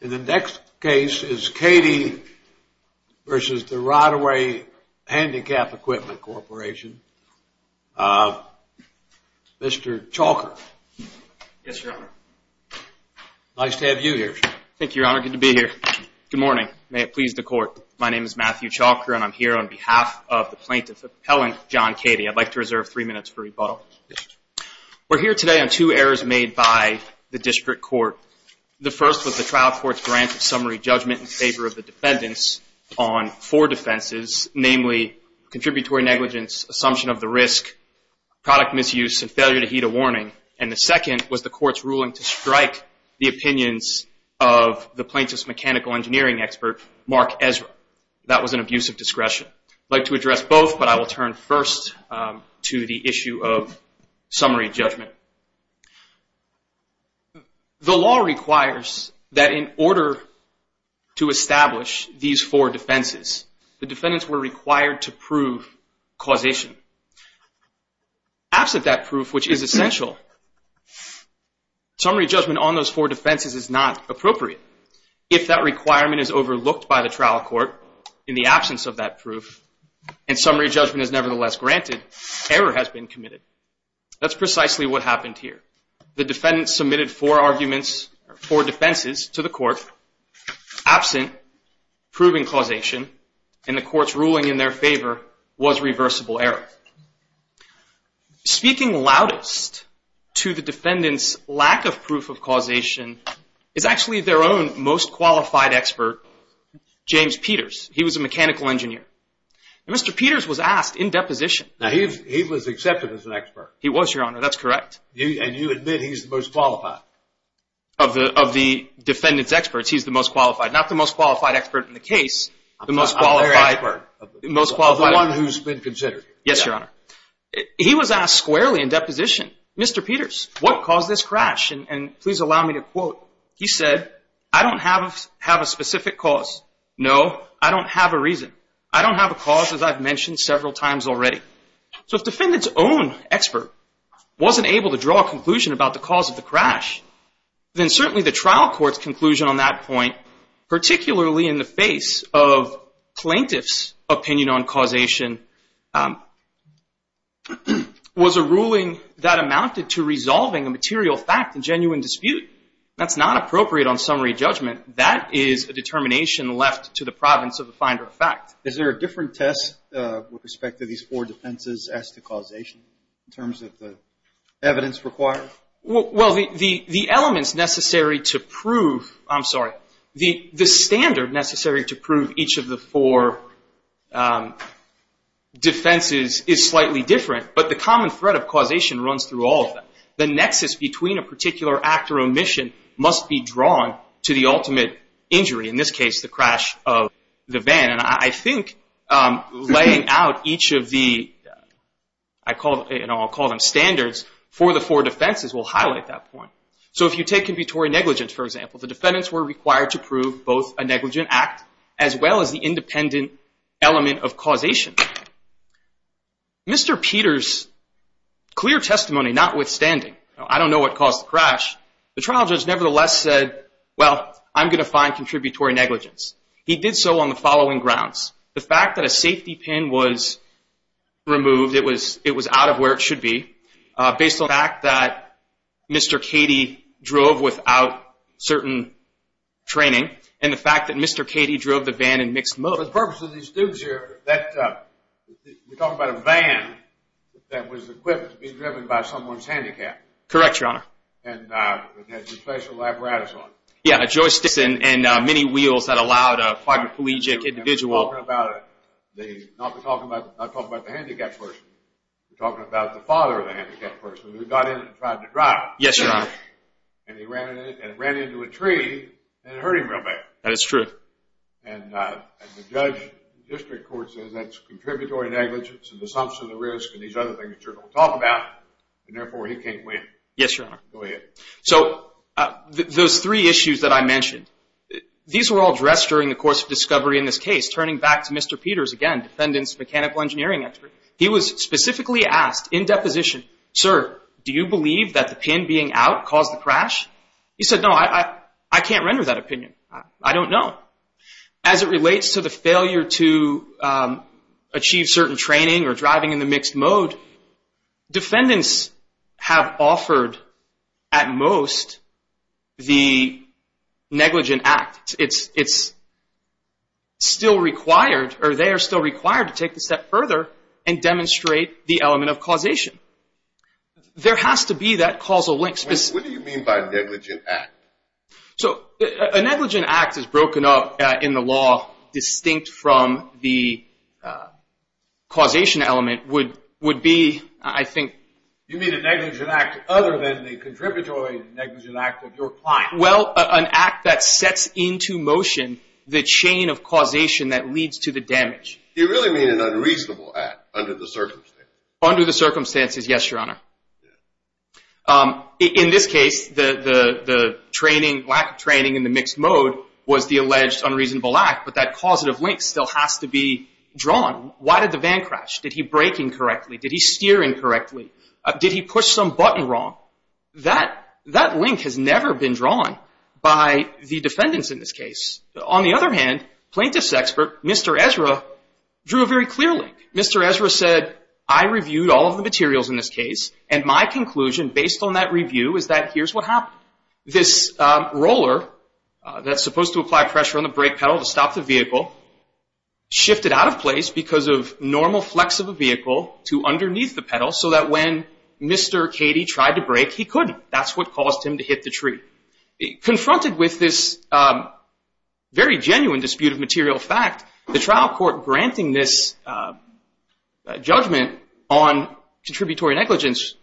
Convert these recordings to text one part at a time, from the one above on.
In the next case is Cady v. Ride-Away Handicap Equipment Corporation. Mr. Chalker. Yes, Your Honor. Nice to have you here. Thank you, Your Honor. Good to be here. Good morning. May it please the Court. My name is Matthew Chalker, and I'm here on behalf of the plaintiff appellant, John Cady. I'd like to reserve three minutes for rebuttal. We're here today on two errors made by the District Court. The first was the trial court's grant of summary judgment in favor of the defendants on four defenses, namely contributory negligence, assumption of the risk, product misuse, and failure to heed a warning. And the second was the court's ruling to strike the opinions of the plaintiff's mechanical engineering expert, Mark Ezra. That was an abuse of discretion. I'd like to address both, but I will turn first to the issue of summary judgment. The law requires that in order to establish these four defenses, the defendants were required to prove causation. Absent that proof, which is essential, summary judgment on those four defenses is not appropriate. If that requirement is overlooked by the trial court in the absence of that proof, and summary judgment is nevertheless granted, error has been committed. That's precisely what happened here. The defendants submitted four arguments or four defenses to the court absent proving causation, and the court's ruling in their favor was reversible error. Speaking loudest to the defendants' lack of proof of causation is actually their own most qualified expert, James Peters. He was a mechanical engineer. And Mr. Peters was asked in deposition. Now, he was accepted as an expert. He was, Your Honor. That's correct. And you admit he's the most qualified? Of the defendants' experts, he's the most qualified. Not the most qualified expert in the case. The most qualified expert. Of the one who's been considered. Yes, Your Honor. He was asked squarely in deposition, Mr. Peters, what caused this crash? And please allow me to quote. He said, I don't have a specific cause. No, I don't have a reason. I don't have a cause, as I've mentioned several times already. So if defendants' own expert wasn't able to draw a conclusion about the cause of the crash, then certainly the trial court's conclusion on that point, particularly in the face of plaintiff's opinion on causation, was a ruling that amounted to resolving a material fact, a genuine dispute. That's not appropriate on summary judgment. That is a determination left to the province of the finder of fact. Is there a different test with respect to these four defenses as to causation in terms of the evidence required? Well, the elements necessary to prove, I'm sorry, the standard necessary to prove each of the four defenses is slightly different, but the common thread of causation runs through all of them. The nexus between a particular act or omission must be drawn to the ultimate injury, in this case the crash of the van. And I think laying out each of the, I'll call them standards, for the four defenses will highlight that point. So if you take convictory negligence, for example, the defendants were required to prove both a negligent act as well as the independent element of causation. Mr. Peter's clear testimony notwithstanding, I don't know what caused the crash, the trial judge nevertheless said, well, I'm going to find contributory negligence. He did so on the following grounds. The fact that a safety pin was removed, it was out of where it should be, based on the fact that Mr. Cady drove without certain training, and the fact that Mr. Cady drove the van in mixed mode. So the purpose of these students here, we're talking about a van that was equipped to be driven by someone's handicap. Correct, Your Honor. And it has a special apparatus on it. Yeah, a joystick and many wheels that allowed a quadriplegic individual. And we're talking about the, not talking about the handicapped person, we're talking about the father of the handicapped person who got in and tried to drive it. Yes, Your Honor. And he ran into a tree and it hurt him real bad. That is true. And the district court says that's contributory negligence and the assumption of risk and these other things that you're going to talk about, and therefore he can't win. Yes, Your Honor. Go ahead. So those three issues that I mentioned, these were all addressed during the course of discovery in this case, turning back to Mr. Peters again, defendant's mechanical engineering expert. He was specifically asked in deposition, sir, do you believe that the pin being out caused the crash? He said, no, I can't render that opinion. I don't know. As it relates to the failure to achieve certain training or driving in the mixed mode, defendants have offered at most the negligent act. It's still required, or they are still required to take the step further and demonstrate the element of causation. There has to be that causal link. What do you mean by negligent act? So a negligent act is broken up in the law distinct from the causation element would be, I think. You mean a negligent act other than the contributory negligent act of your client? Well, an act that sets into motion the chain of causation that leads to the damage. You really mean an unreasonable act under the circumstances? Under the circumstances, yes, Your Honor. In this case, the training, lack of training in the mixed mode was the alleged unreasonable act, but that causative link still has to be drawn. Why did the van crash? Did he brake incorrectly? Did he steer incorrectly? Did he push some button wrong? That link has never been drawn by the defendants in this case. On the other hand, plaintiff's expert, Mr. Ezra, drew a very clear link. Mr. Ezra said, I reviewed all of the materials in this case, and my conclusion based on that review is that here's what happened. This roller that's supposed to apply pressure on the brake pedal to stop the vehicle shifted out of place because of normal flex of a vehicle to underneath the pedal so that when Mr. Cady tried to brake, he couldn't. That's what caused him to hit the tree. Confronted with this very genuine dispute of material fact, the trial court granting this judgment on contributory negligence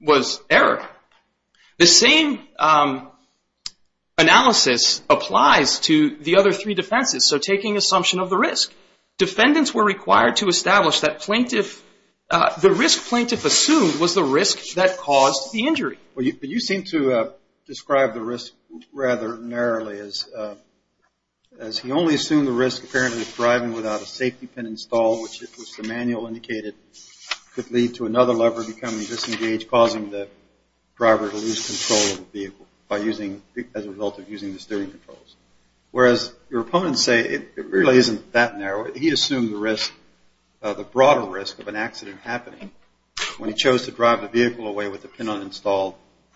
was error. The same analysis applies to the other three defenses, so taking assumption of the risk. Defendants were required to establish that plaintiff, the risk plaintiff assumed was the risk that caused the injury. You seem to describe the risk rather narrowly as he only assumed the risk apparently of driving without a safety pin installed, which the manual indicated could lead to another lever becoming disengaged causing the driver to lose control of the vehicle as a result of using the steering controls. Whereas your opponents say it really isn't that narrow. He assumed the broader risk of an accident happening when he chose to drive the vehicle away with the pin uninstalled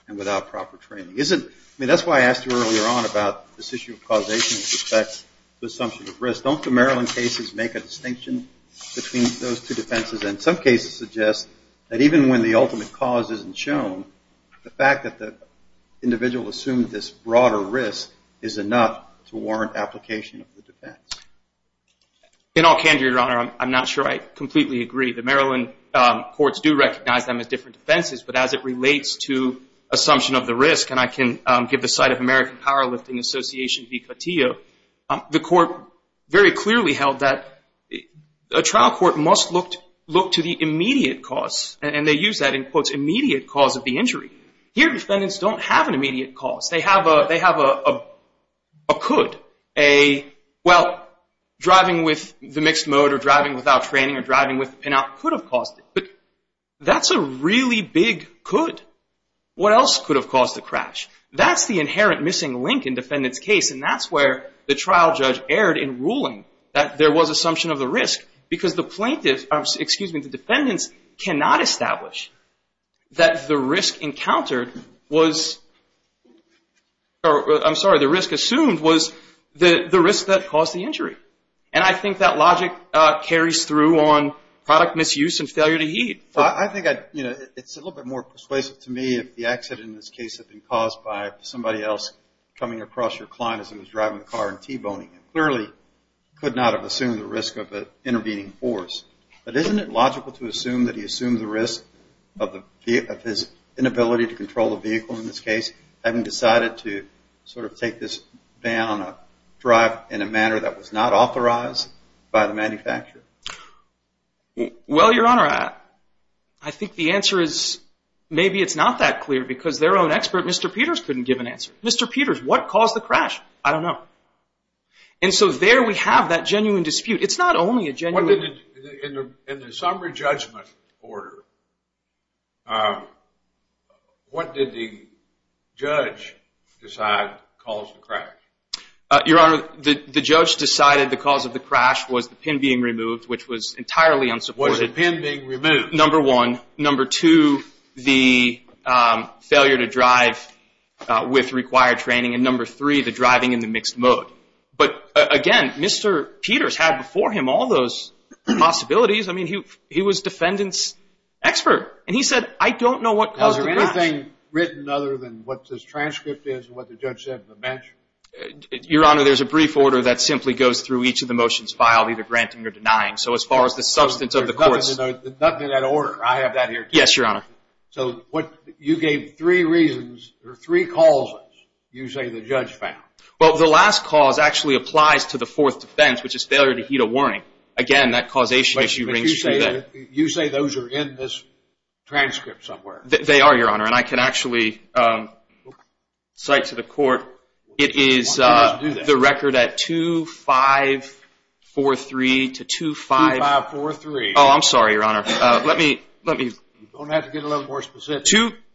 and without proper training. That's why I asked you earlier on about this issue of causation with respect to assumption of risk. Don't the Maryland cases make a distinction between those two defenses? Some cases suggest that even when the ultimate cause isn't shown, the fact that the individual assumed this broader risk is enough to warrant application of the defense. In all candor, Your Honor, I'm not sure I completely agree. The Maryland courts do recognize them as different defenses, but as it relates to assumption of the risk, and I can give the site of American Powerlifting Association v. Cotillo, the court very clearly held that a trial court must look to the immediate cause, and they use that in quotes, immediate cause of the injury. Here, defendants don't have an immediate cause. They have a could. Well, driving with the mixed mode or driving without training or driving with the pin out could have caused it, but that's a really big could. What else could have caused the crash? That's the inherent missing link in defendant's case, and that's where the trial judge erred in ruling that there was assumption of the risk because the plaintiffs, excuse me, the defendants cannot establish that the risk encountered was, I'm sorry, the risk assumed was the risk that caused the injury, and I think that logic carries through on product misuse and failure to heed. I think it's a little bit more persuasive to me if the accident in this case had been caused by somebody else coming across your client as he was driving the car and T-boning him. He clearly could not have assumed the risk of an intervening force, but isn't it logical to assume that he assumed the risk of his inability to control the vehicle in this case, having decided to sort of take this van on a drive in a manner that was not authorized by the manufacturer? Well, Your Honor, I think the answer is maybe it's not that clear because their own expert, Mr. Peters, couldn't give an answer. Mr. Peters, what caused the crash? I don't know. And so there we have that genuine dispute. It's not only a genuine dispute. In the summary judgment order, what did the judge decide caused the crash? Your Honor, the judge decided the cause of the crash was the pin being removed, which was entirely unsupported. Was the pin being removed? Number one. Number two, the failure to drive with required training. And number three, the driving in the mixed mode. But, again, Mr. Peters had before him all those possibilities. I mean, he was defendant's expert. And he said, I don't know what caused the crash. Now, is there anything written other than what this transcript is and what the judge said in the bench? Your Honor, there's a brief order that simply goes through each of the motions filed, either granting or denying. So as far as the substance of the courts. There's nothing in that order. I have that here, too. Yes, Your Honor. So you gave three reasons or three causes you say the judge found. Well, the last cause actually applies to the fourth defense, which is failure to heed a warning. Again, that causation issue rings true then. But you say those are in this transcript somewhere. They are, Your Honor. And I can actually cite to the court. It is the record at 2-5-4-3 to 2-5. 2-5-4-3. Oh, I'm sorry, Your Honor. Let me. You're going to have to get a little more specific.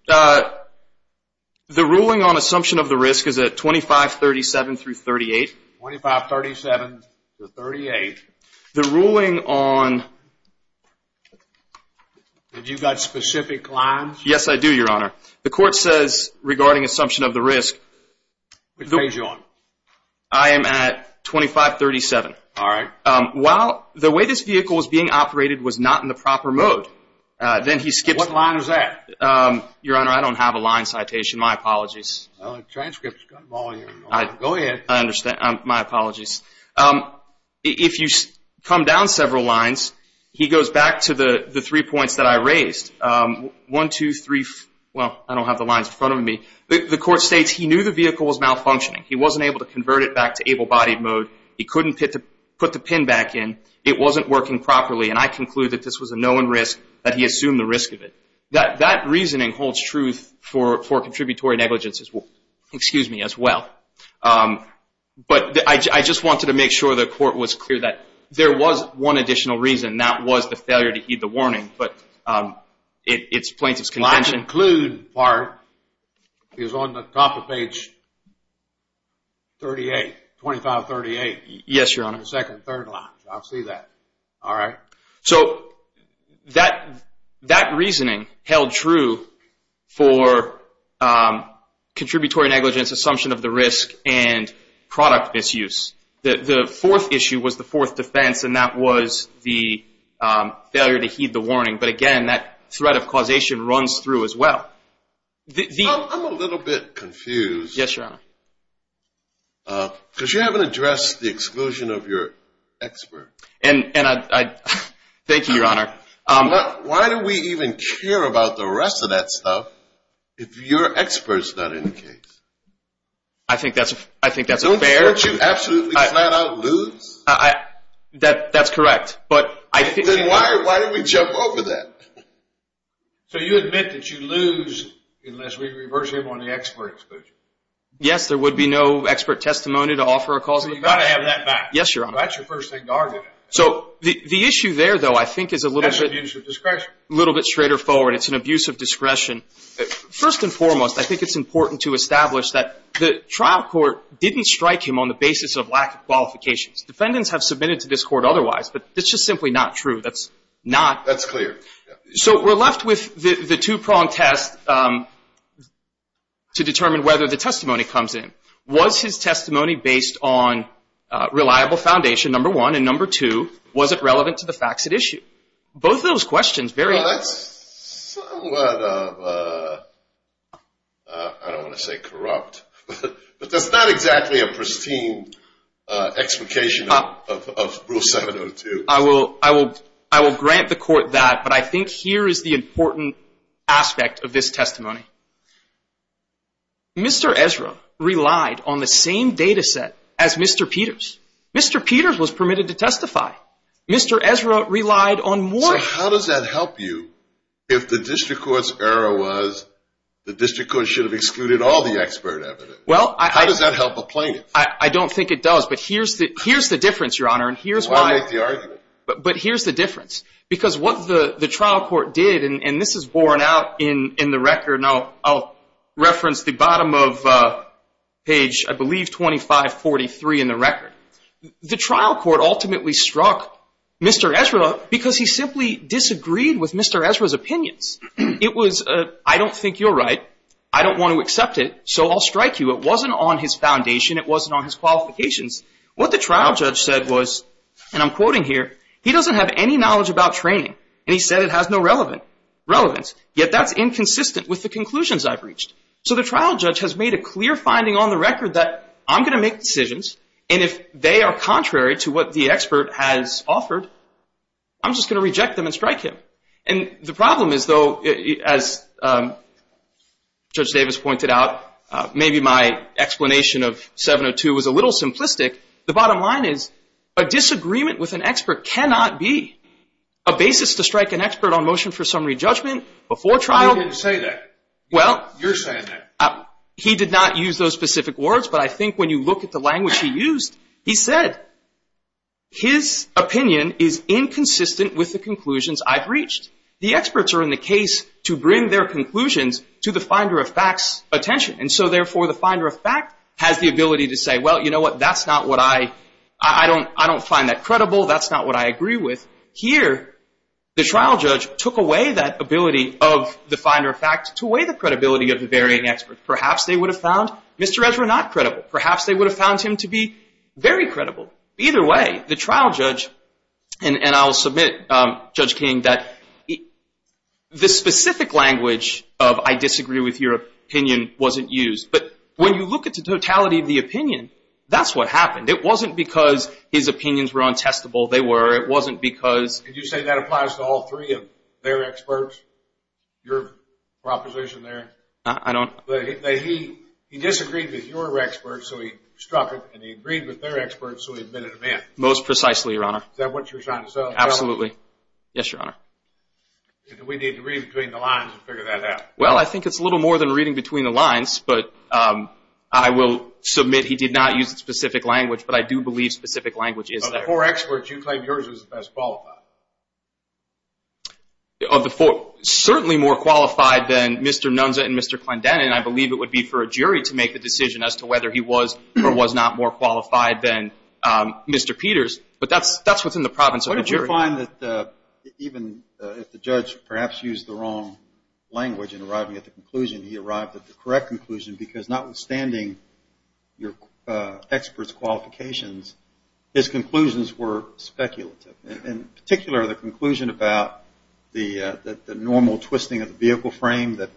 The ruling on assumption of the risk is at 2537 through 38. 2537 to 38. The ruling on... Have you got specific lines? Yes, I do, Your Honor. The court says regarding assumption of the risk... Which page are you on? I am at 2537. All right. The way this vehicle was being operated was not in the proper mode. Then he skips... What line is that? Your Honor, I don't have a line citation. My apologies. The transcript's got volume. Go ahead. My apologies. If you come down several lines, he goes back to the three points that I raised. One, two, three... Well, I don't have the lines in front of me. The court states he knew the vehicle was malfunctioning. He wasn't able to convert it back to able-bodied mode. He couldn't put the pin back in. It wasn't working properly, and I conclude that this was a known risk, that he assumed the risk of it. That reasoning holds truth for contributory negligence as well. But I just wanted to make sure the court was clear that there was one additional reason. That was the failure to heed the warning. But it's plaintiff's contention. The line to include part is on the top of page 38, 2538. Yes, Your Honor. The second and third line. I see that. All right. So that reasoning held true for contributory negligence, assumption of the risk, and product misuse. The fourth issue was the fourth defense, and that was the failure to heed the warning. But, again, that threat of causation runs through as well. I'm a little bit confused. Yes, Your Honor. Because you haven't addressed the exclusion of your expert. Thank you, Your Honor. Why do we even care about the rest of that stuff if your expert is not in the case? I think that's fair. Don't you absolutely flat out lose? That's correct. Then why do we jump over that? So you admit that you lose unless we reverse him on the expert exclusion. Yes, there would be no expert testimony to offer a causal effect. You've got to have that back. Yes, Your Honor. That's your first thing to argue. So the issue there, though, I think is a little bit straighter forward. It's an abuse of discretion. First and foremost, I think it's important to establish that the trial court didn't strike him on the basis of lack of qualifications. Defendants have submitted to this court otherwise, but that's just simply not true. That's not. That's clear. So we're left with the two-pronged test to determine whether the testimony comes in. Was his testimony based on reliable foundation, number one? And, number two, was it relevant to the facts at issue? Both of those questions vary. Well, that's somewhat of a, I don't want to say corrupt, but that's not exactly a pristine explication of Rule 702. I will grant the court that, but I think here is the important aspect of this testimony. Mr. Ezra relied on the same data set as Mr. Peters. Mr. Peters was permitted to testify. Mr. Ezra relied on more. So how does that help you if the district court's error was the district court and they should have excluded all the expert evidence? How does that help a plaintiff? I don't think it does, but here's the difference, Your Honor. I'll make the argument. But here's the difference. Because what the trial court did, and this is borne out in the record, and I'll reference the bottom of page, I believe, 2543 in the record. The trial court ultimately struck Mr. Ezra because he simply disagreed with Mr. Ezra's opinions. It was, I don't think you're right. I don't want to accept it, so I'll strike you. It wasn't on his foundation. It wasn't on his qualifications. What the trial judge said was, and I'm quoting here, he doesn't have any knowledge about training, and he said it has no relevance, yet that's inconsistent with the conclusions I've reached. So the trial judge has made a clear finding on the record that I'm going to make decisions, and if they are contrary to what the expert has offered, I'm just going to reject them and strike him. And the problem is, though, as Judge Davis pointed out, maybe my explanation of 702 was a little simplistic. The bottom line is a disagreement with an expert cannot be a basis to strike an expert on motion for summary judgment before trial. He didn't say that. Well. You're saying that. He did not use those specific words, but I think when you look at the language he used, he said his opinion is inconsistent with the conclusions I've reached. The experts are in the case to bring their conclusions to the finder of fact's attention, and so therefore the finder of fact has the ability to say, well, you know what, that's not what I, I don't find that credible. That's not what I agree with. Here, the trial judge took away that ability of the finder of fact to weigh the credibility of the varying experts. Perhaps they would have found Mr. Ezra not credible. Perhaps they would have found him to be very credible. Either way, the trial judge, and I'll submit, Judge King, that the specific language of I disagree with your opinion wasn't used. But when you look at the totality of the opinion, that's what happened. It wasn't because his opinions were untestable. They were. It wasn't because. Could you say that applies to all three of their experts, your proposition there? I don't. He disagreed with your experts, so he struck it, and he agreed with their experts, so he admitted a myth. Most precisely, Your Honor. Is that what you're trying to say? Absolutely. Yes, Your Honor. We need to read between the lines and figure that out. Well, I think it's a little more than reading between the lines, but I will submit he did not use the specific language, but I do believe specific language is there. Of the four experts, you claim yours is the best qualified. Of the four, certainly more qualified than Mr. Nunza and Mr. Clendenin, and I believe it would be for a jury to make the decision as to whether he was or was not more qualified than Mr. Peters, but that's what's in the province of the jury. What did you find that even if the judge perhaps used the wrong language in arriving at the conclusion, he arrived at the correct conclusion because notwithstanding your experts' qualifications, his conclusions were speculative, in particular the conclusion about the normal twisting of the vehicle frame that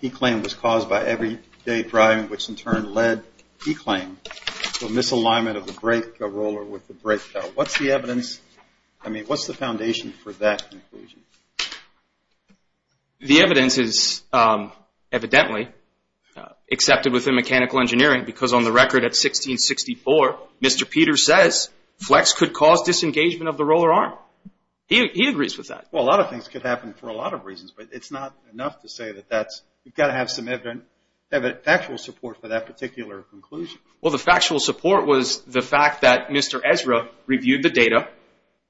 he claimed was caused by everyday driving, which in turn led, he claimed, to a misalignment of the brake roller with the brake pedal. What's the evidence? I mean, what's the foundation for that conclusion? The evidence is evidently accepted within mechanical engineering because on the record at 1664, Mr. Peters says flex could cause disengagement of the roller arm. He agrees with that. Well, a lot of things could happen for a lot of reasons, but it's not enough to say that that's, you've got to have some factual support for that particular conclusion. Well, the factual support was the fact that Mr. Ezra reviewed the data.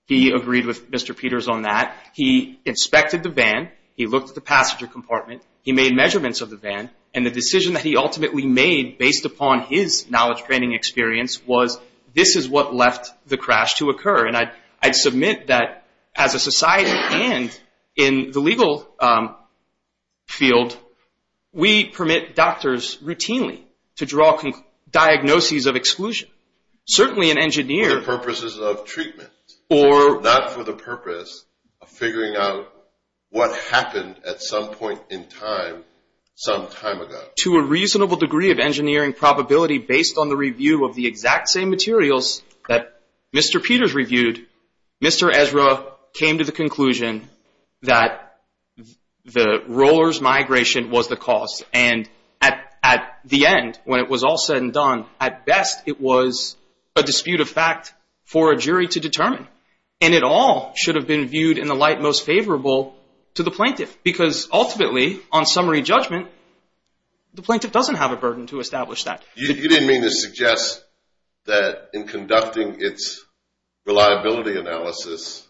He agreed with Mr. Peters on that. He inspected the van. He looked at the passenger compartment. He made measurements of the van, and the decision that he ultimately made, based upon his knowledge training experience, was this is what left the crash to occur. And I'd submit that as a society and in the legal field, we permit doctors routinely to draw diagnoses of exclusion. For the purposes of treatment. Not for the purpose of figuring out what happened at some point in time, some time ago. To a reasonable degree of engineering probability, based on the review of the exact same materials that Mr. Peters reviewed, Mr. Ezra came to the conclusion that the roller's migration was the cause. And at the end, when it was all said and done, at best, it was a dispute of fact for a jury to determine. And it all should have been viewed in the light most favorable to the plaintiff. Because ultimately, on summary judgment, the plaintiff doesn't have a burden to establish that. You didn't mean to suggest that in conducting its reliability analysis,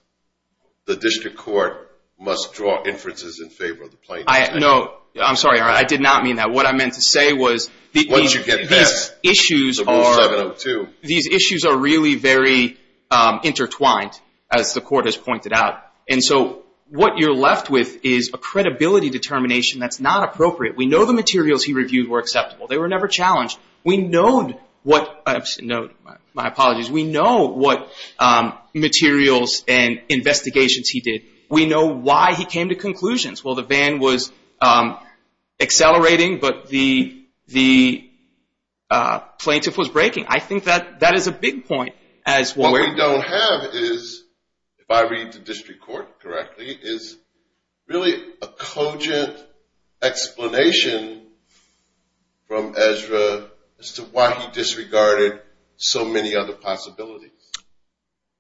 the district court must draw inferences in favor of the plaintiff. No, I'm sorry. I did not mean that. What I meant to say was these issues are really very intertwined, as the court has pointed out. And so what you're left with is a credibility determination that's not appropriate. We know the materials he reviewed were acceptable. They were never challenged. We know what materials and investigations he did. We know why he came to conclusions. Well, the van was accelerating, but the plaintiff was braking. I think that is a big point. What we don't have is, if I read the district court correctly, is really a cogent explanation from Ezra as to why he disregarded so many other possibilities.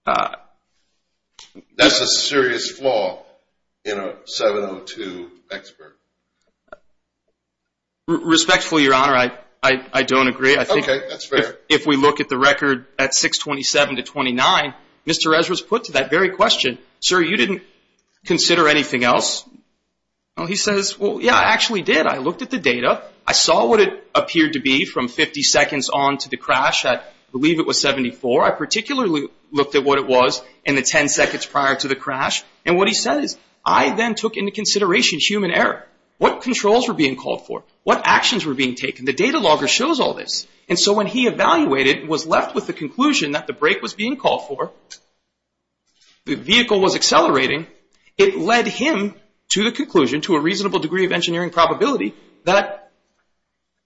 That's a serious flaw in a 702 expert. Respectfully, Your Honor, I don't agree. Okay, that's fair. If we look at the record at 627 to 29, Mr. Ezra's put to that very question, sir, you didn't consider anything else? He says, well, yeah, I actually did. I looked at the data. I saw what it appeared to be from 50 seconds on to the crash. I believe it was 74. I particularly looked at what it was in the 10 seconds prior to the crash. And what he says, I then took into consideration human error. What controls were being called for? What actions were being taken? The data logger shows all this. And so when he evaluated and was left with the conclusion that the brake was being called for, the vehicle was accelerating, it led him to the conclusion, to a reasonable degree of engineering probability, that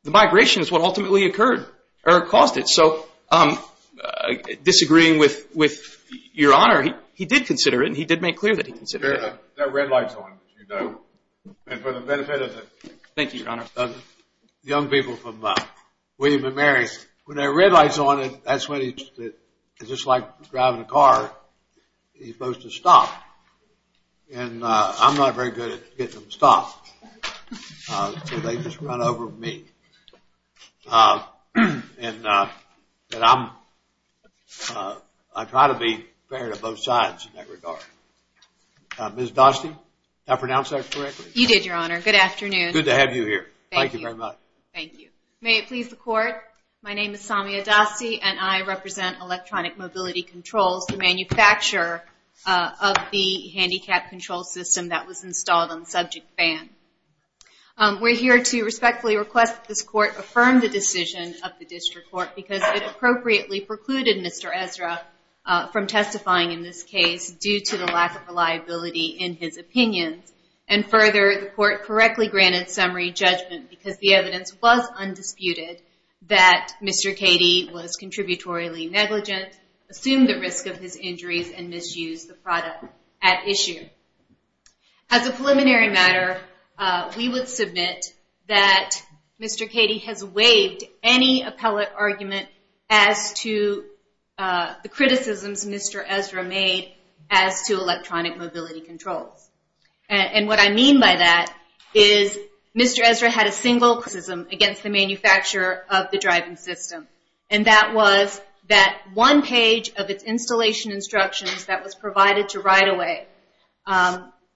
the migration is what ultimately occurred or caused it. So disagreeing with Your Honor, he did consider it and he did make clear that he considered it. That red light's on, as you know. And for the benefit of the young people from William & Mary, when that red light's on, that's when it's just like driving a car. You're supposed to stop. And I'm not very good at getting them stopped. So they just run over me. And I try to be fair to both sides in that regard. Ms. Dostey, did I pronounce that correctly? You did, Your Honor. Good afternoon. Good to have you here. Thank you very much. Thank you. May it please the Court, my name is Samia Dostey and I represent Electronic Mobility Controls, the manufacturer of the handicap control system that was installed on the subject van. We're here to respectfully request that this Court affirm the decision of the District Court because it appropriately precluded Mr. Ezra from testifying in this case due to the lack of reliability in his opinions. And further, the Court correctly granted summary judgment because the evidence was undisputed that Mr. Cady was contributory negligent, assumed the risk of his injuries, and misused the product at issue. As a preliminary matter, we would submit that Mr. Cady has waived any appellate argument as to the criticisms Mr. Ezra made as to Electronic Mobility Controls. And what I mean by that is Mr. Ezra had a single criticism against the manufacturer of the driving system, and that was that one page of its installation instructions that was provided to right-of-way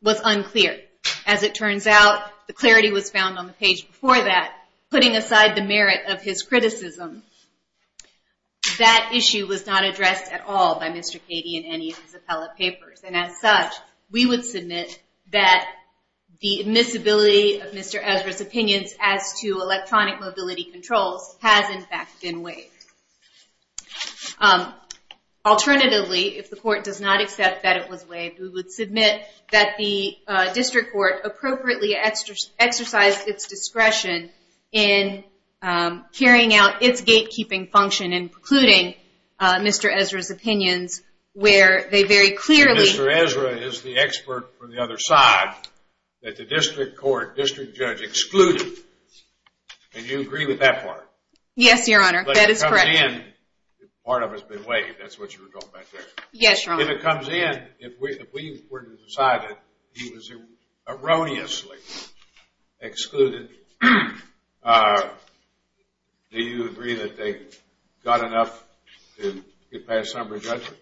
was unclear. As it turns out, the clarity was found on the page before that. Putting aside the merit of his criticism, that issue was not addressed at all by Mr. Cady in any of his appellate papers. And as such, we would submit that the admissibility of Mr. Ezra's opinions as to Electronic Mobility Controls has, in fact, been waived. Alternatively, if the court does not accept that it was waived, we would submit that the district court appropriately exercised its discretion in carrying out its gatekeeping function in precluding Mr. Ezra's opinions where they very clearly... Mr. Ezra is the expert for the other side that the district court, district judge excluded. And you agree with that part? Yes, Your Honor, that is correct. Part of it has been waived, that's what you were talking about there. Yes, Your Honor. If it comes in, if we were to decide that he was erroneously excluded, do you agree that they got enough to get past summary judgment?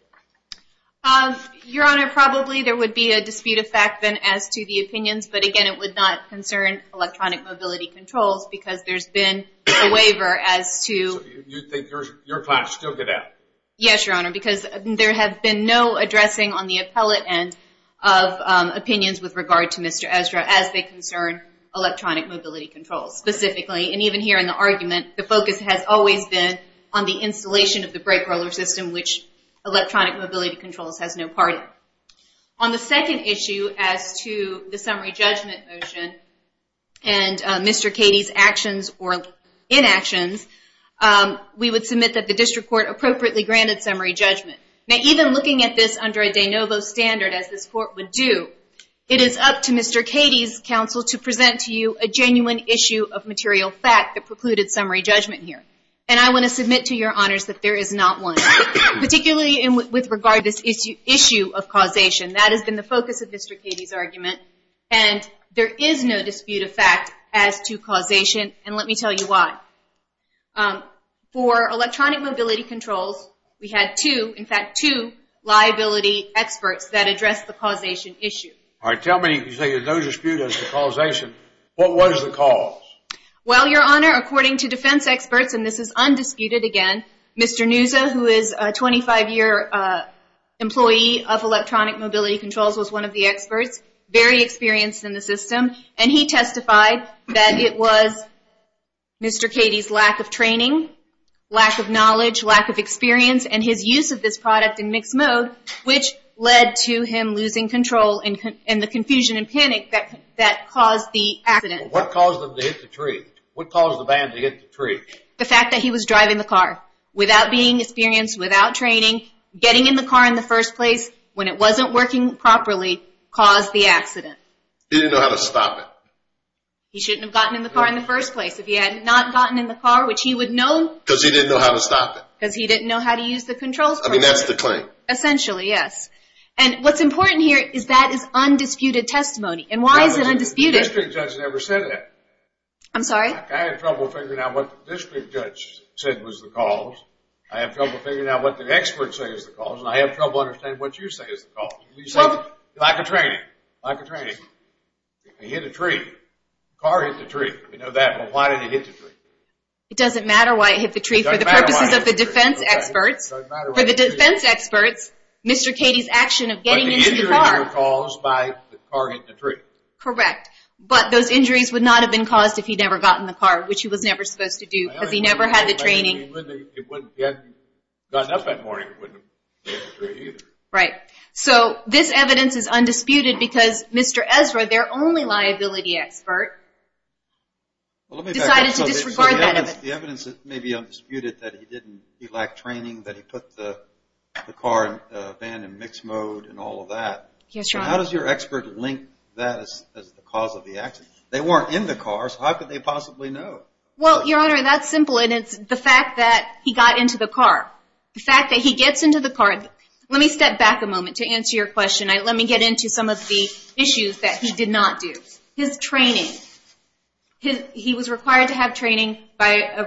Your Honor, probably there would be a dispute of fact then as to the opinions, but again, it would not concern Electronic Mobility Controls because there's been a waiver as to... You think your clients still get out? Yes, Your Honor, because there have been no addressing on the appellate end of opinions with regard to Mr. Ezra as they concern Electronic Mobility Controls specifically. And even here in the argument, the focus has always been on the installation of the brake roller system, which Electronic Mobility Controls has no part in. On the second issue as to the summary judgment motion, and Mr. Cady's actions or inactions, we would submit that the district court appropriately granted summary judgment. Now, even looking at this under a de novo standard as this court would do, it is up to Mr. Cady's counsel to present to you a genuine issue of material fact that precluded summary judgment here. And I want to submit to Your Honors that there is not one, particularly with regard to this issue of causation. That has been the focus of Mr. Cady's argument, and there is no dispute of fact as to causation, and let me tell you why. For Electronic Mobility Controls, we had two, in fact, two liability experts that addressed the causation issue. All right, tell me, you say there's no dispute as to causation. What was the cause? Well, Your Honor, according to defense experts, and this is undisputed again, Mr. Neuza, who is a 25-year employee of Electronic Mobility Controls, was one of the experts, very experienced in the system, and he testified that it was Mr. Cady's lack of training, lack of knowledge, lack of experience, and his use of this product in mixed mode, which led to him losing control and the confusion and panic that caused the accident. What caused them to hit the tree? What caused the van to hit the tree? The fact that he was driving the car without being experienced, without training, getting in the car in the first place when it wasn't working properly caused the accident. He didn't know how to stop it. He shouldn't have gotten in the car in the first place. If he had not gotten in the car, which he would know. Because he didn't know how to stop it. Because he didn't know how to use the controls correctly. I mean, that's the claim. Essentially, yes. And what's important here is that is undisputed testimony, and why is it undisputed? The district judge never said that. I'm sorry? I had trouble figuring out what the district judge said was the cause. I have trouble figuring out what the experts say is the cause, and I have trouble understanding what you say is the cause. You say lack of training. Lack of training. He hit a tree. The car hit the tree. We know that, but why did he hit the tree? It doesn't matter why he hit the tree. It doesn't matter why he hit the tree. For the purposes of the defense experts. It doesn't matter why he hit the tree. For the defense experts, Mr. Katie's action of getting into the car. But the injuries were caused by the car hitting the tree. Correct. But those injuries would not have been caused if he'd never gotten in the car, which he was never supposed to do because he never had the training. It wouldn't have gotten up that morning if it wouldn't have hit the tree either. Right. So this evidence is undisputed because Mr. Ezra, their only liability expert, decided to disregard that evidence. The evidence may be undisputed that he lacked training, that he put the car and van in mixed mode and all of that. Yes, Your Honor. How does your expert link that as the cause of the accident? They weren't in the car, so how could they possibly know? Well, Your Honor, that's simple. And it's the fact that he got into the car. The fact that he gets into the car. Let me step back a moment to answer your question. Let me get into some of the issues that he did not do. His training. He was required to have training by a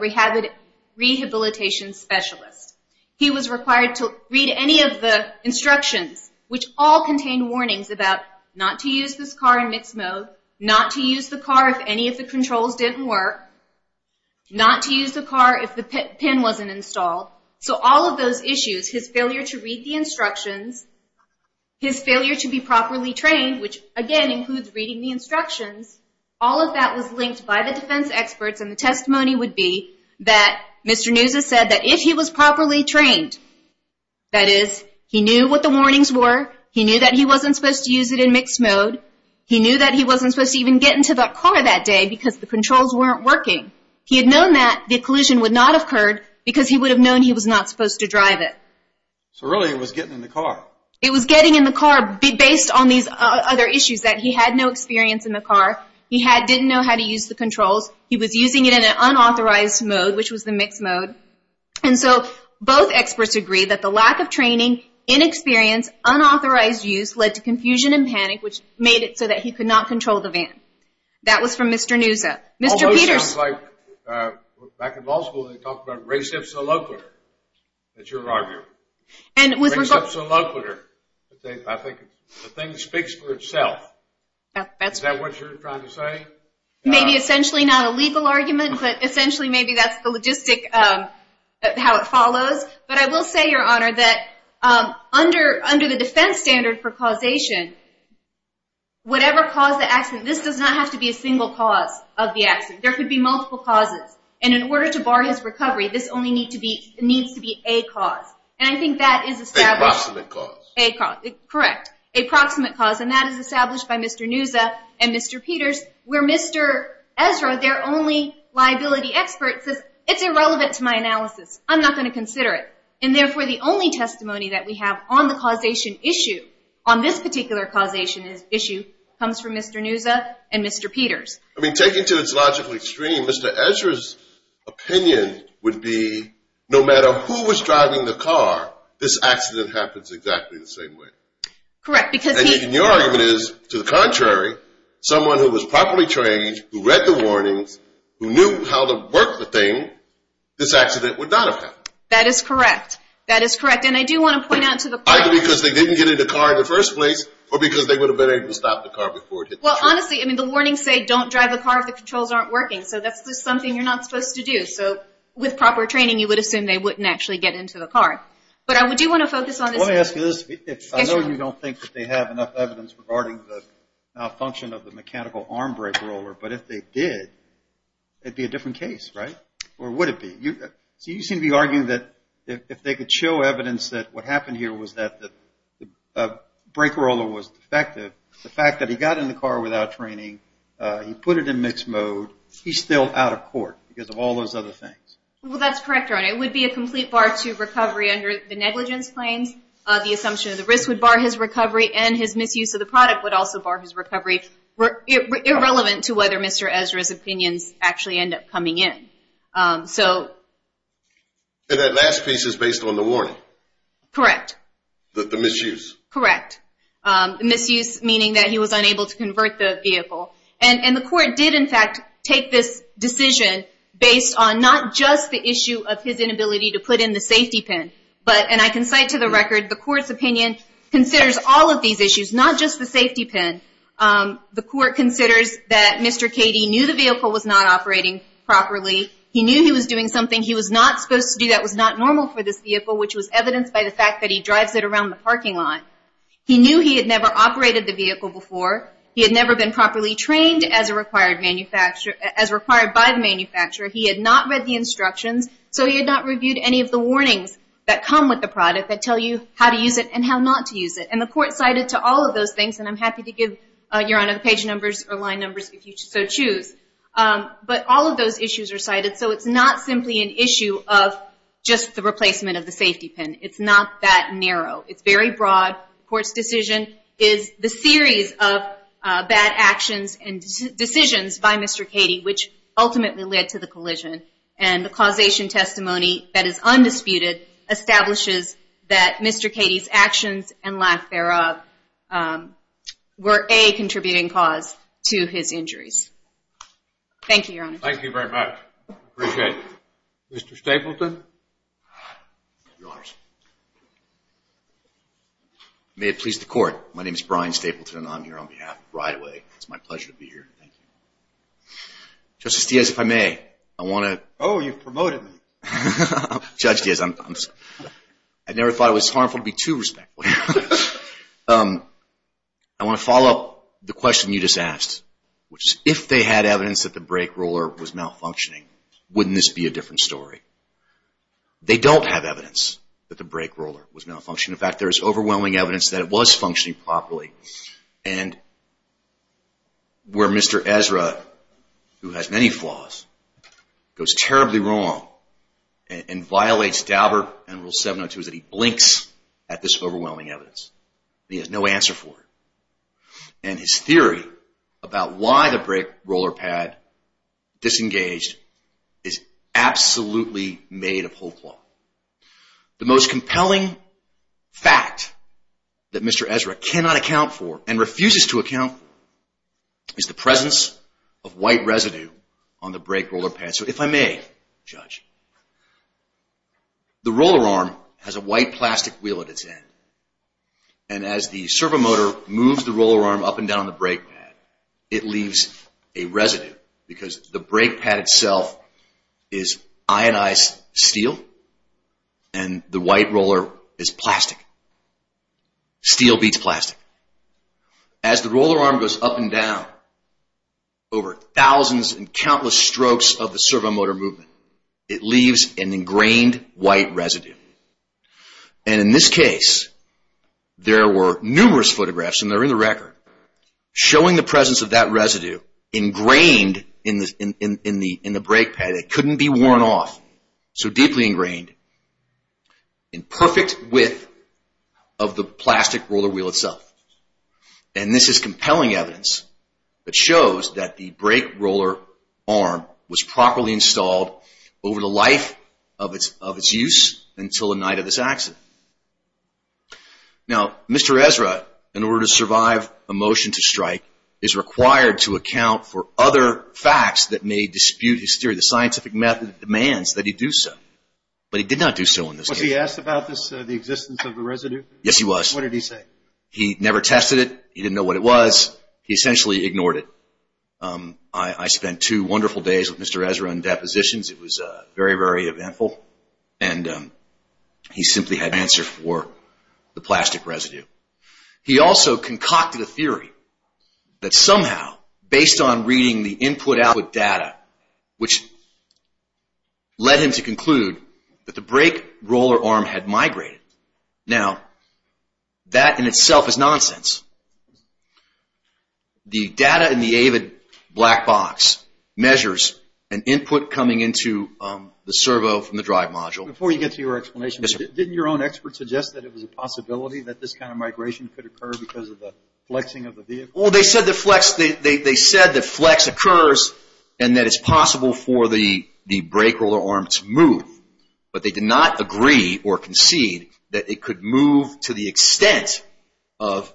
rehabilitation specialist. He was required to read any of the instructions, which all contained warnings about not to use this car in mixed mode, not to use the car if any of the controls didn't work, not to use the car if the pin wasn't installed. So all of those issues, his failure to read the instructions, his failure to be properly trained, which, again, includes reading the instructions, all of that was linked by the defense experts, and the testimony would be that Mr. Neuza said that if he was properly trained, that is, he knew what the warnings were, he knew that he wasn't supposed to use it in mixed mode, he knew that he wasn't supposed to even get into the car that day because the controls weren't working. He had known that the collision would not have occurred because he would have known he was not supposed to drive it. So really it was getting in the car. It was getting in the car based on these other issues, that he had no experience in the car. He didn't know how to use the controls. He was using it in an unauthorized mode, which was the mixed mode. And so both experts agree that the lack of training, inexperience, unauthorized use led to confusion and panic, which made it so that he could not control the van. That was from Mr. Neuza. Although it sounds like back in law school, they talked about res ipsa loquitur. That's your argument. Res ipsa loquitur. I think the thing speaks for itself. Is that what you're trying to say? Maybe essentially not a legal argument, but essentially maybe that's the logistic, how it follows. But I will say, Your Honor, that under the defense standard for causation, whatever caused the accident, this does not have to be a single cause of the accident. There could be multiple causes. And in order to bar his recovery, this only needs to be a cause. And I think that is established. Approximate cause. Correct. Approximate cause. And that is established by Mr. Neuza and Mr. Peters, where Mr. Ezra, their only liability expert, says it's irrelevant to my analysis. I'm not going to consider it. And therefore the only testimony that we have on the causation issue, on this particular causation issue, comes from Mr. Neuza and Mr. Peters. I mean, taking to its logical extreme, Mr. Ezra's opinion would be no matter who was driving the car, this accident happens exactly the same way. Correct. And your argument is, to the contrary, someone who was properly trained, who read the warnings, who knew how to work the thing, this accident would not have happened. That is correct. That is correct. Either because they didn't get in the car in the first place or because they would have been able to stop the car before it hit the tree. Well, honestly, I mean, the warnings say don't drive the car if the controls aren't working. So that's just something you're not supposed to do. So with proper training, you would assume they wouldn't actually get into the car. But I do want to focus on this. I want to ask you this. I know you don't think that they have enough evidence regarding the malfunction of the mechanical arm brake roller, but if they did, it would be a different case, right? Or would it be? You seem to be arguing that if they could show evidence that what happened here was that the brake roller was defective, the fact that he got in the car without training, he put it in mixed mode, he's still out of court because of all those other things. Well, that's correct, Ernie. It would be a complete bar to recovery under the negligence claims. The assumption of the risk would bar his recovery, and his misuse of the product would also bar his recovery, irrelevant to whether Mr. Ezra's opinions actually end up coming in. And that last piece is based on the warning? Correct. The misuse? Correct. The misuse meaning that he was unable to convert the vehicle. And the court did, in fact, take this decision based on not just the issue of his inability to put in the safety pin, but, and I can cite to the record, the court's opinion considers all of these issues, not just the safety pin. The court considers that Mr. Cady knew the vehicle was not operating properly. He knew he was doing something he was not supposed to do that was not normal for this vehicle, which was evidenced by the fact that he drives it around the parking lot. He knew he had never operated the vehicle before. He had never been properly trained as required by the manufacturer. He had not read the instructions, so he had not reviewed any of the warnings that come with the product that tell you how to use it and how not to use it. And the court cited to all of those things, and I'm happy to give, Your Honor, page numbers or line numbers if you so choose. But all of those issues are cited, so it's not simply an issue of just the replacement of the safety pin. It's not that narrow. It's very broad. The court's decision is the series of bad actions and decisions by Mr. Cady, which ultimately led to the collision. And the causation testimony that is undisputed establishes that Mr. Cady's actions and lack thereof were a contributing cause to his injuries. Thank you, Your Honor. Thank you very much. I appreciate it. Mr. Stapleton. Your Honors. May it please the Court. My name is Brian Stapleton, and I'm here on behalf of Brideway. It's my pleasure to be here. Thank you. Justice Diaz, if I may, I want to... Oh, you've promoted me. Judge Diaz, I never thought it was harmful to be too respectful. I want to follow up the question you just asked, which is if they had evidence that the brake roller was malfunctioning, wouldn't this be a different story? They don't have evidence that the brake roller was malfunctioning. In fact, there is overwhelming evidence that it was functioning properly. And where Mr. Ezra, who has many flaws, goes terribly wrong and violates Dauber and Rule 702, is that he blinks at this overwhelming evidence. He has no answer for it. And his theory about why the brake roller pad disengaged is absolutely made of whole cloth. The most compelling fact that Mr. Ezra cannot account for and refuses to account for is the presence of white residue on the brake roller pad. So if I may, Judge, the roller arm has a white plastic wheel at its end. And as the servomotor moves the roller arm up and down on the brake pad, it leaves a residue because the brake pad itself is ionized steel and the white roller is plastic. Steel beats plastic. As the roller arm goes up and down over thousands and countless strokes of the servomotor movement, it leaves an ingrained white residue. And in this case, there were numerous photographs, and they're in the record, showing the presence of that residue ingrained in the brake pad. It couldn't be worn off, so deeply ingrained in perfect width of the plastic roller wheel itself. And this is compelling evidence that shows that the brake roller arm was properly installed over the life of its use until the night of this accident. Now, Mr. Ezra, in order to survive a motion to strike, is required to account for other facts that may dispute his theory. The scientific method demands that he do so, but he did not do so in this case. Was he asked about this, the existence of the residue? Yes, he was. What did he say? He never tested it. He didn't know what it was. He essentially ignored it. I spent two wonderful days with Mr. Ezra in depositions. It was very, very eventful. And he simply had no answer for the plastic residue. He also concocted a theory that somehow, based on reading the input output data, which led him to conclude that the brake roller arm had migrated. Now, that in itself is nonsense. The data in the AVID black box measures an input coming into the servo from the drive module. Before you get to your explanation, didn't your own expert suggest that it was a possibility that this kind of migration could occur because of the flexing of the vehicle? Well, they said that flex occurs and that it's possible for the brake roller arm to move. But they did not agree or concede that it could move to the extent of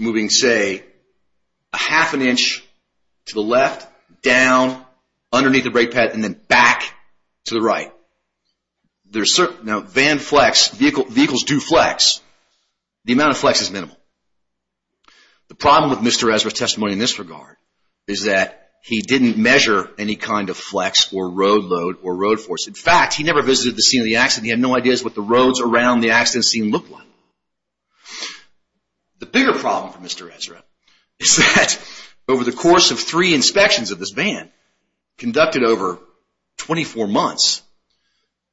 moving, say, a half an inch to the left, down, underneath the brake pad, and then back to the right. Now, vans flex. Vehicles do flex. The amount of flex is minimal. The problem with Mr. Ezra's testimony in this regard is that he didn't measure any kind of flex or road load or road force. In fact, he never visited the scene of the accident. He had no idea what the roads around the accident scene looked like. The bigger problem for Mr. Ezra is that over the course of three inspections of this van, conducted over 24 months,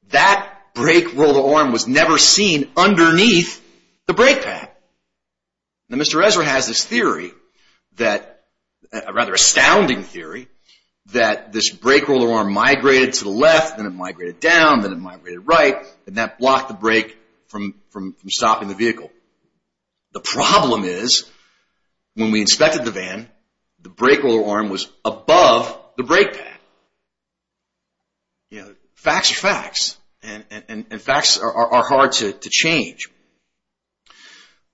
that brake roller arm was never seen underneath the brake pad. Now, Mr. Ezra has this theory, a rather astounding theory, that this brake roller arm migrated to the left, then it migrated down, then it migrated right, and that blocked the brake from stopping the vehicle. The problem is when we inspected the van, the brake roller arm was above the brake pad. Facts are facts, and facts are hard to change.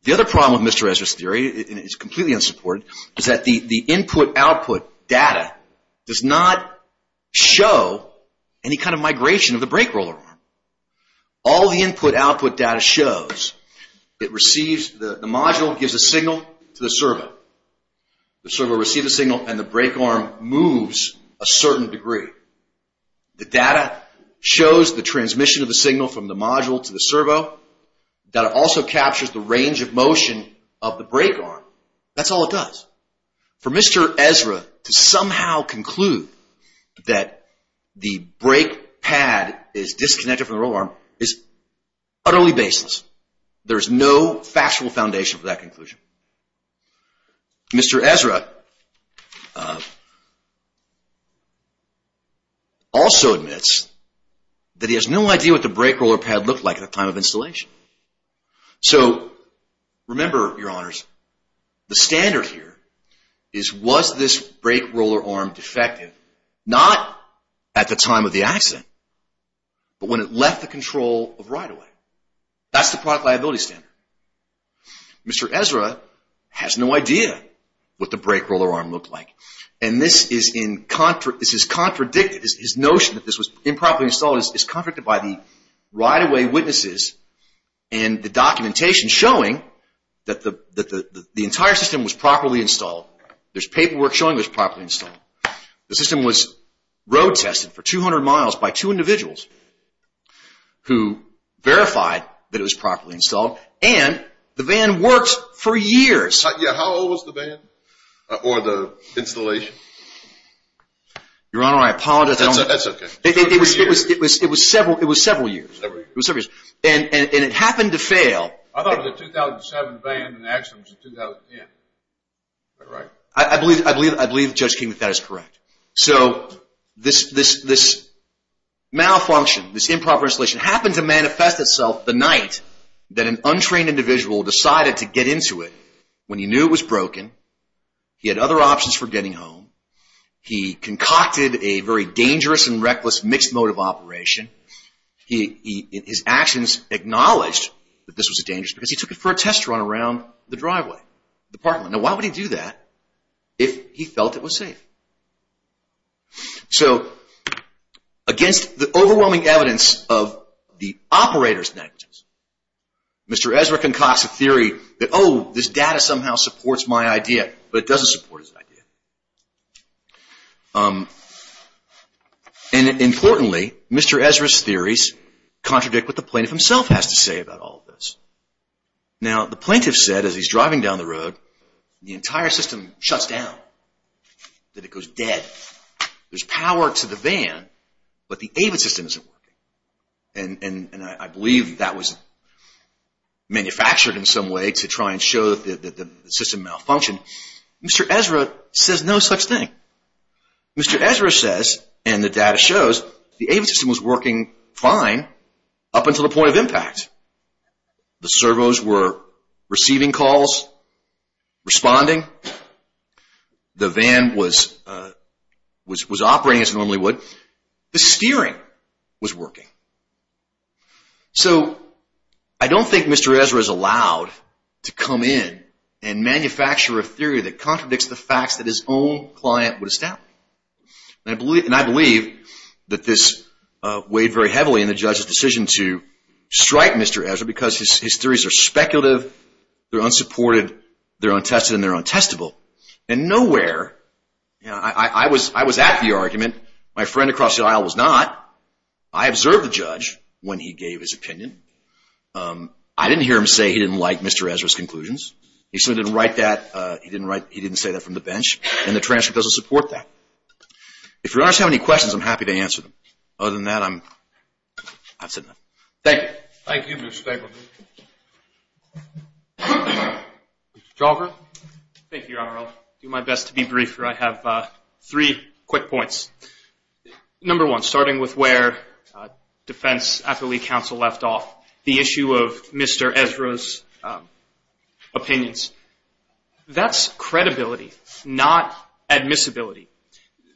The other problem with Mr. Ezra's theory, and it's completely unsupported, is that the input-output data does not show any kind of migration of the brake roller arm. All the input-output data shows the module gives a signal to the servo. The servo receives a signal, and the brake roller arm moves a certain degree. The data shows the transmission of the signal from the module to the servo. Data also captures the range of motion of the brake roller arm. That's all it does. For Mr. Ezra to somehow conclude that the brake pad is disconnected from the roller roller arm is utterly baseless. There is no factual foundation for that conclusion. Mr. Ezra also admits that he has no idea what the brake roller pad looked like at the time of installation. So remember, Your Honors, the standard here is was this brake roller arm defective not at the time of the accident, but when it left the control of right-of-way. That's the product liability standard. Mr. Ezra has no idea what the brake roller arm looked like. And this is contradicted. His notion that this was improperly installed is contradicted by the right-of-way witnesses and the documentation showing that the entire system was properly installed. There's paperwork showing it was properly installed. The system was road tested for 200 miles by two individuals who verified that it was properly installed, and the van worked for years. How old was the van or the installation? Your Honor, I apologize. That's okay. It was several years. It was several years. And it happened to fail. I thought it was a 2007 van and the accident was in 2010. Am I right? I believe Judge King that that is correct. So this malfunction, this improper installation, happened to manifest itself the night that an untrained individual decided to get into it when he knew it was broken, he had other options for getting home, he concocted a very dangerous and reckless mixed-motive operation. His actions acknowledged that this was dangerous because he took it for a test run around the driveway, the parking lot. Now why would he do that if he felt it was safe? So against the overwhelming evidence of the operator's negligence, Mr. Ezra concocts a theory that, oh, this data somehow supports my idea, but it doesn't support his idea. And importantly, Mr. Ezra's theories contradict what the plaintiff himself has to say about all of this. Now the plaintiff said as he's driving down the road, the entire system shuts down, that it goes dead. There's power to the van, but the AVID system isn't working. And I believe that was manufactured in some way to try and show that the system malfunctioned. Mr. Ezra says no such thing. Mr. Ezra says, and the data shows, the AVID system was working fine up until the point of impact. The servos were receiving calls, responding. The van was operating as it normally would. The steering was working. So I don't think Mr. Ezra's allowed to come in and manufacture a theory that contradicts the facts that his own client would establish. And I believe that this weighed very heavily in the judge's decision to strike Mr. Ezra because his theories are speculative, they're unsupported, they're untested, and they're untestable. And nowhere, I was at the argument. My friend across the aisle was not. I observed the judge when he gave his opinion. I didn't hear him say he didn't like Mr. Ezra's conclusions. He simply didn't write that. He didn't say that from the bench. And the transcript doesn't support that. If your honors have any questions, I'm happy to answer them. Other than that, I've said enough. Thank you. Thank you, Mr. Paperman. Mr. Chalker. Thank you, Your Honor. I'll do my best to be briefer. I have three quick points. Number one, starting with where Defense Affiliate Council left off, the issue of Mr. Ezra's opinions, that's credibility, not admissibility.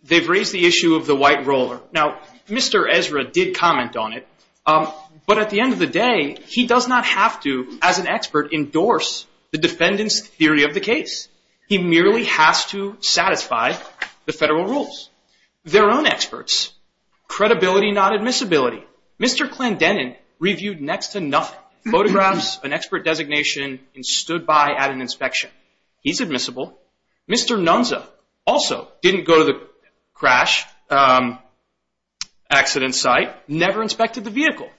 They've raised the issue of the white roller. Now, Mr. Ezra did comment on it, but at the end of the day, he does not have to, as an expert, endorse the defendant's theory of the case. He merely has to satisfy the federal rules. Their own experts, credibility, not admissibility. Mr. Klandenin reviewed next to nothing, photographs, an expert designation, and stood by at an inspection. He's admissible. Mr. Nunza also didn't go to the crash accident site, never inspected the vehicle.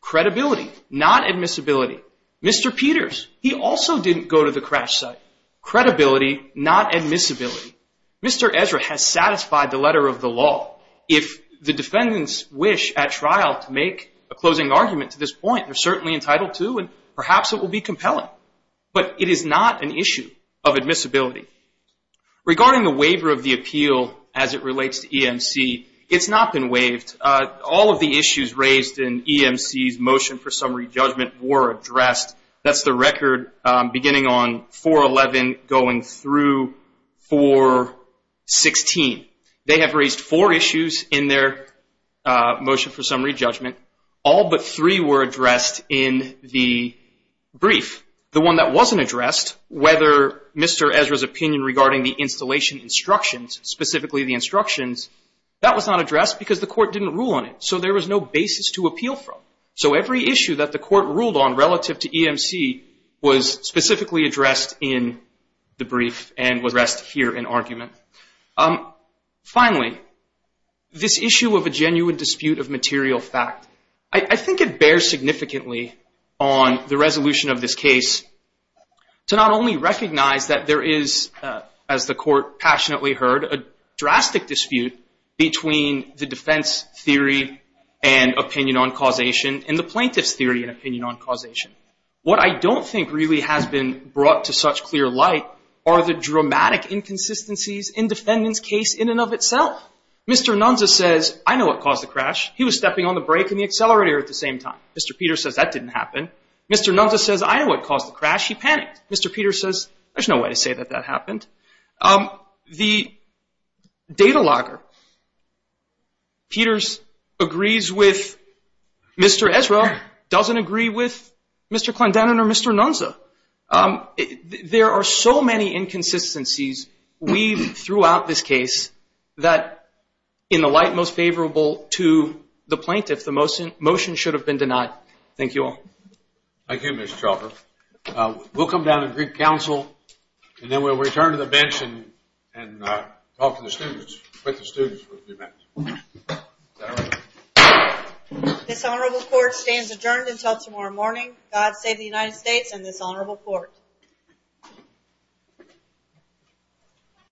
Credibility, not admissibility. Mr. Peters, he also didn't go to the crash site. Credibility, not admissibility. Mr. Ezra has satisfied the letter of the law. If the defendants wish at trial to make a closing argument to this point, they're certainly entitled to, and perhaps it will be compelling. But it is not an issue of admissibility. Regarding the waiver of the appeal as it relates to EMC, it's not been waived. All of the issues raised in EMC's motion for summary judgment were addressed. That's the record beginning on 4-11 going through 4-16. They have raised four issues in their motion for summary judgment. All but three were addressed in the brief. The one that wasn't addressed, whether Mr. Ezra's opinion regarding the installation instructions, specifically the instructions, that was not addressed because the court didn't rule on it. So there was no basis to appeal from. So every issue that the court ruled on relative to EMC was specifically addressed in the brief and was addressed here in argument. Finally, this issue of a genuine dispute of material fact, I think it bears significantly on the resolution of this case to not only recognize that there is, as the court passionately heard, a drastic dispute between the defense theory and opinion on causation and the plaintiff's theory and opinion on causation. What I don't think really has been brought to such clear light are the dramatic inconsistencies in defendant's case in and of itself. Mr. Nunza says, I know what caused the crash. He was stepping on the brake and the accelerator at the same time. Mr. Peters says, that didn't happen. Mr. Nunza says, I know what caused the crash. He panicked. Mr. Peters says, there's no way to say that that happened. The data logger, Peters, agrees with Mr. Ezra, doesn't agree with Mr. Clendenin or Mr. Nunza. There are so many inconsistencies weaved throughout this case that, in the light most favorable to the plaintiff, the motion should have been denied. Thank you all. Thank you, Mr. Chauffeur. We'll come down and greet counsel, and then we'll return to the bench and talk to the students. This honorable court stands adjourned until tomorrow morning. God save the United States and this honorable court.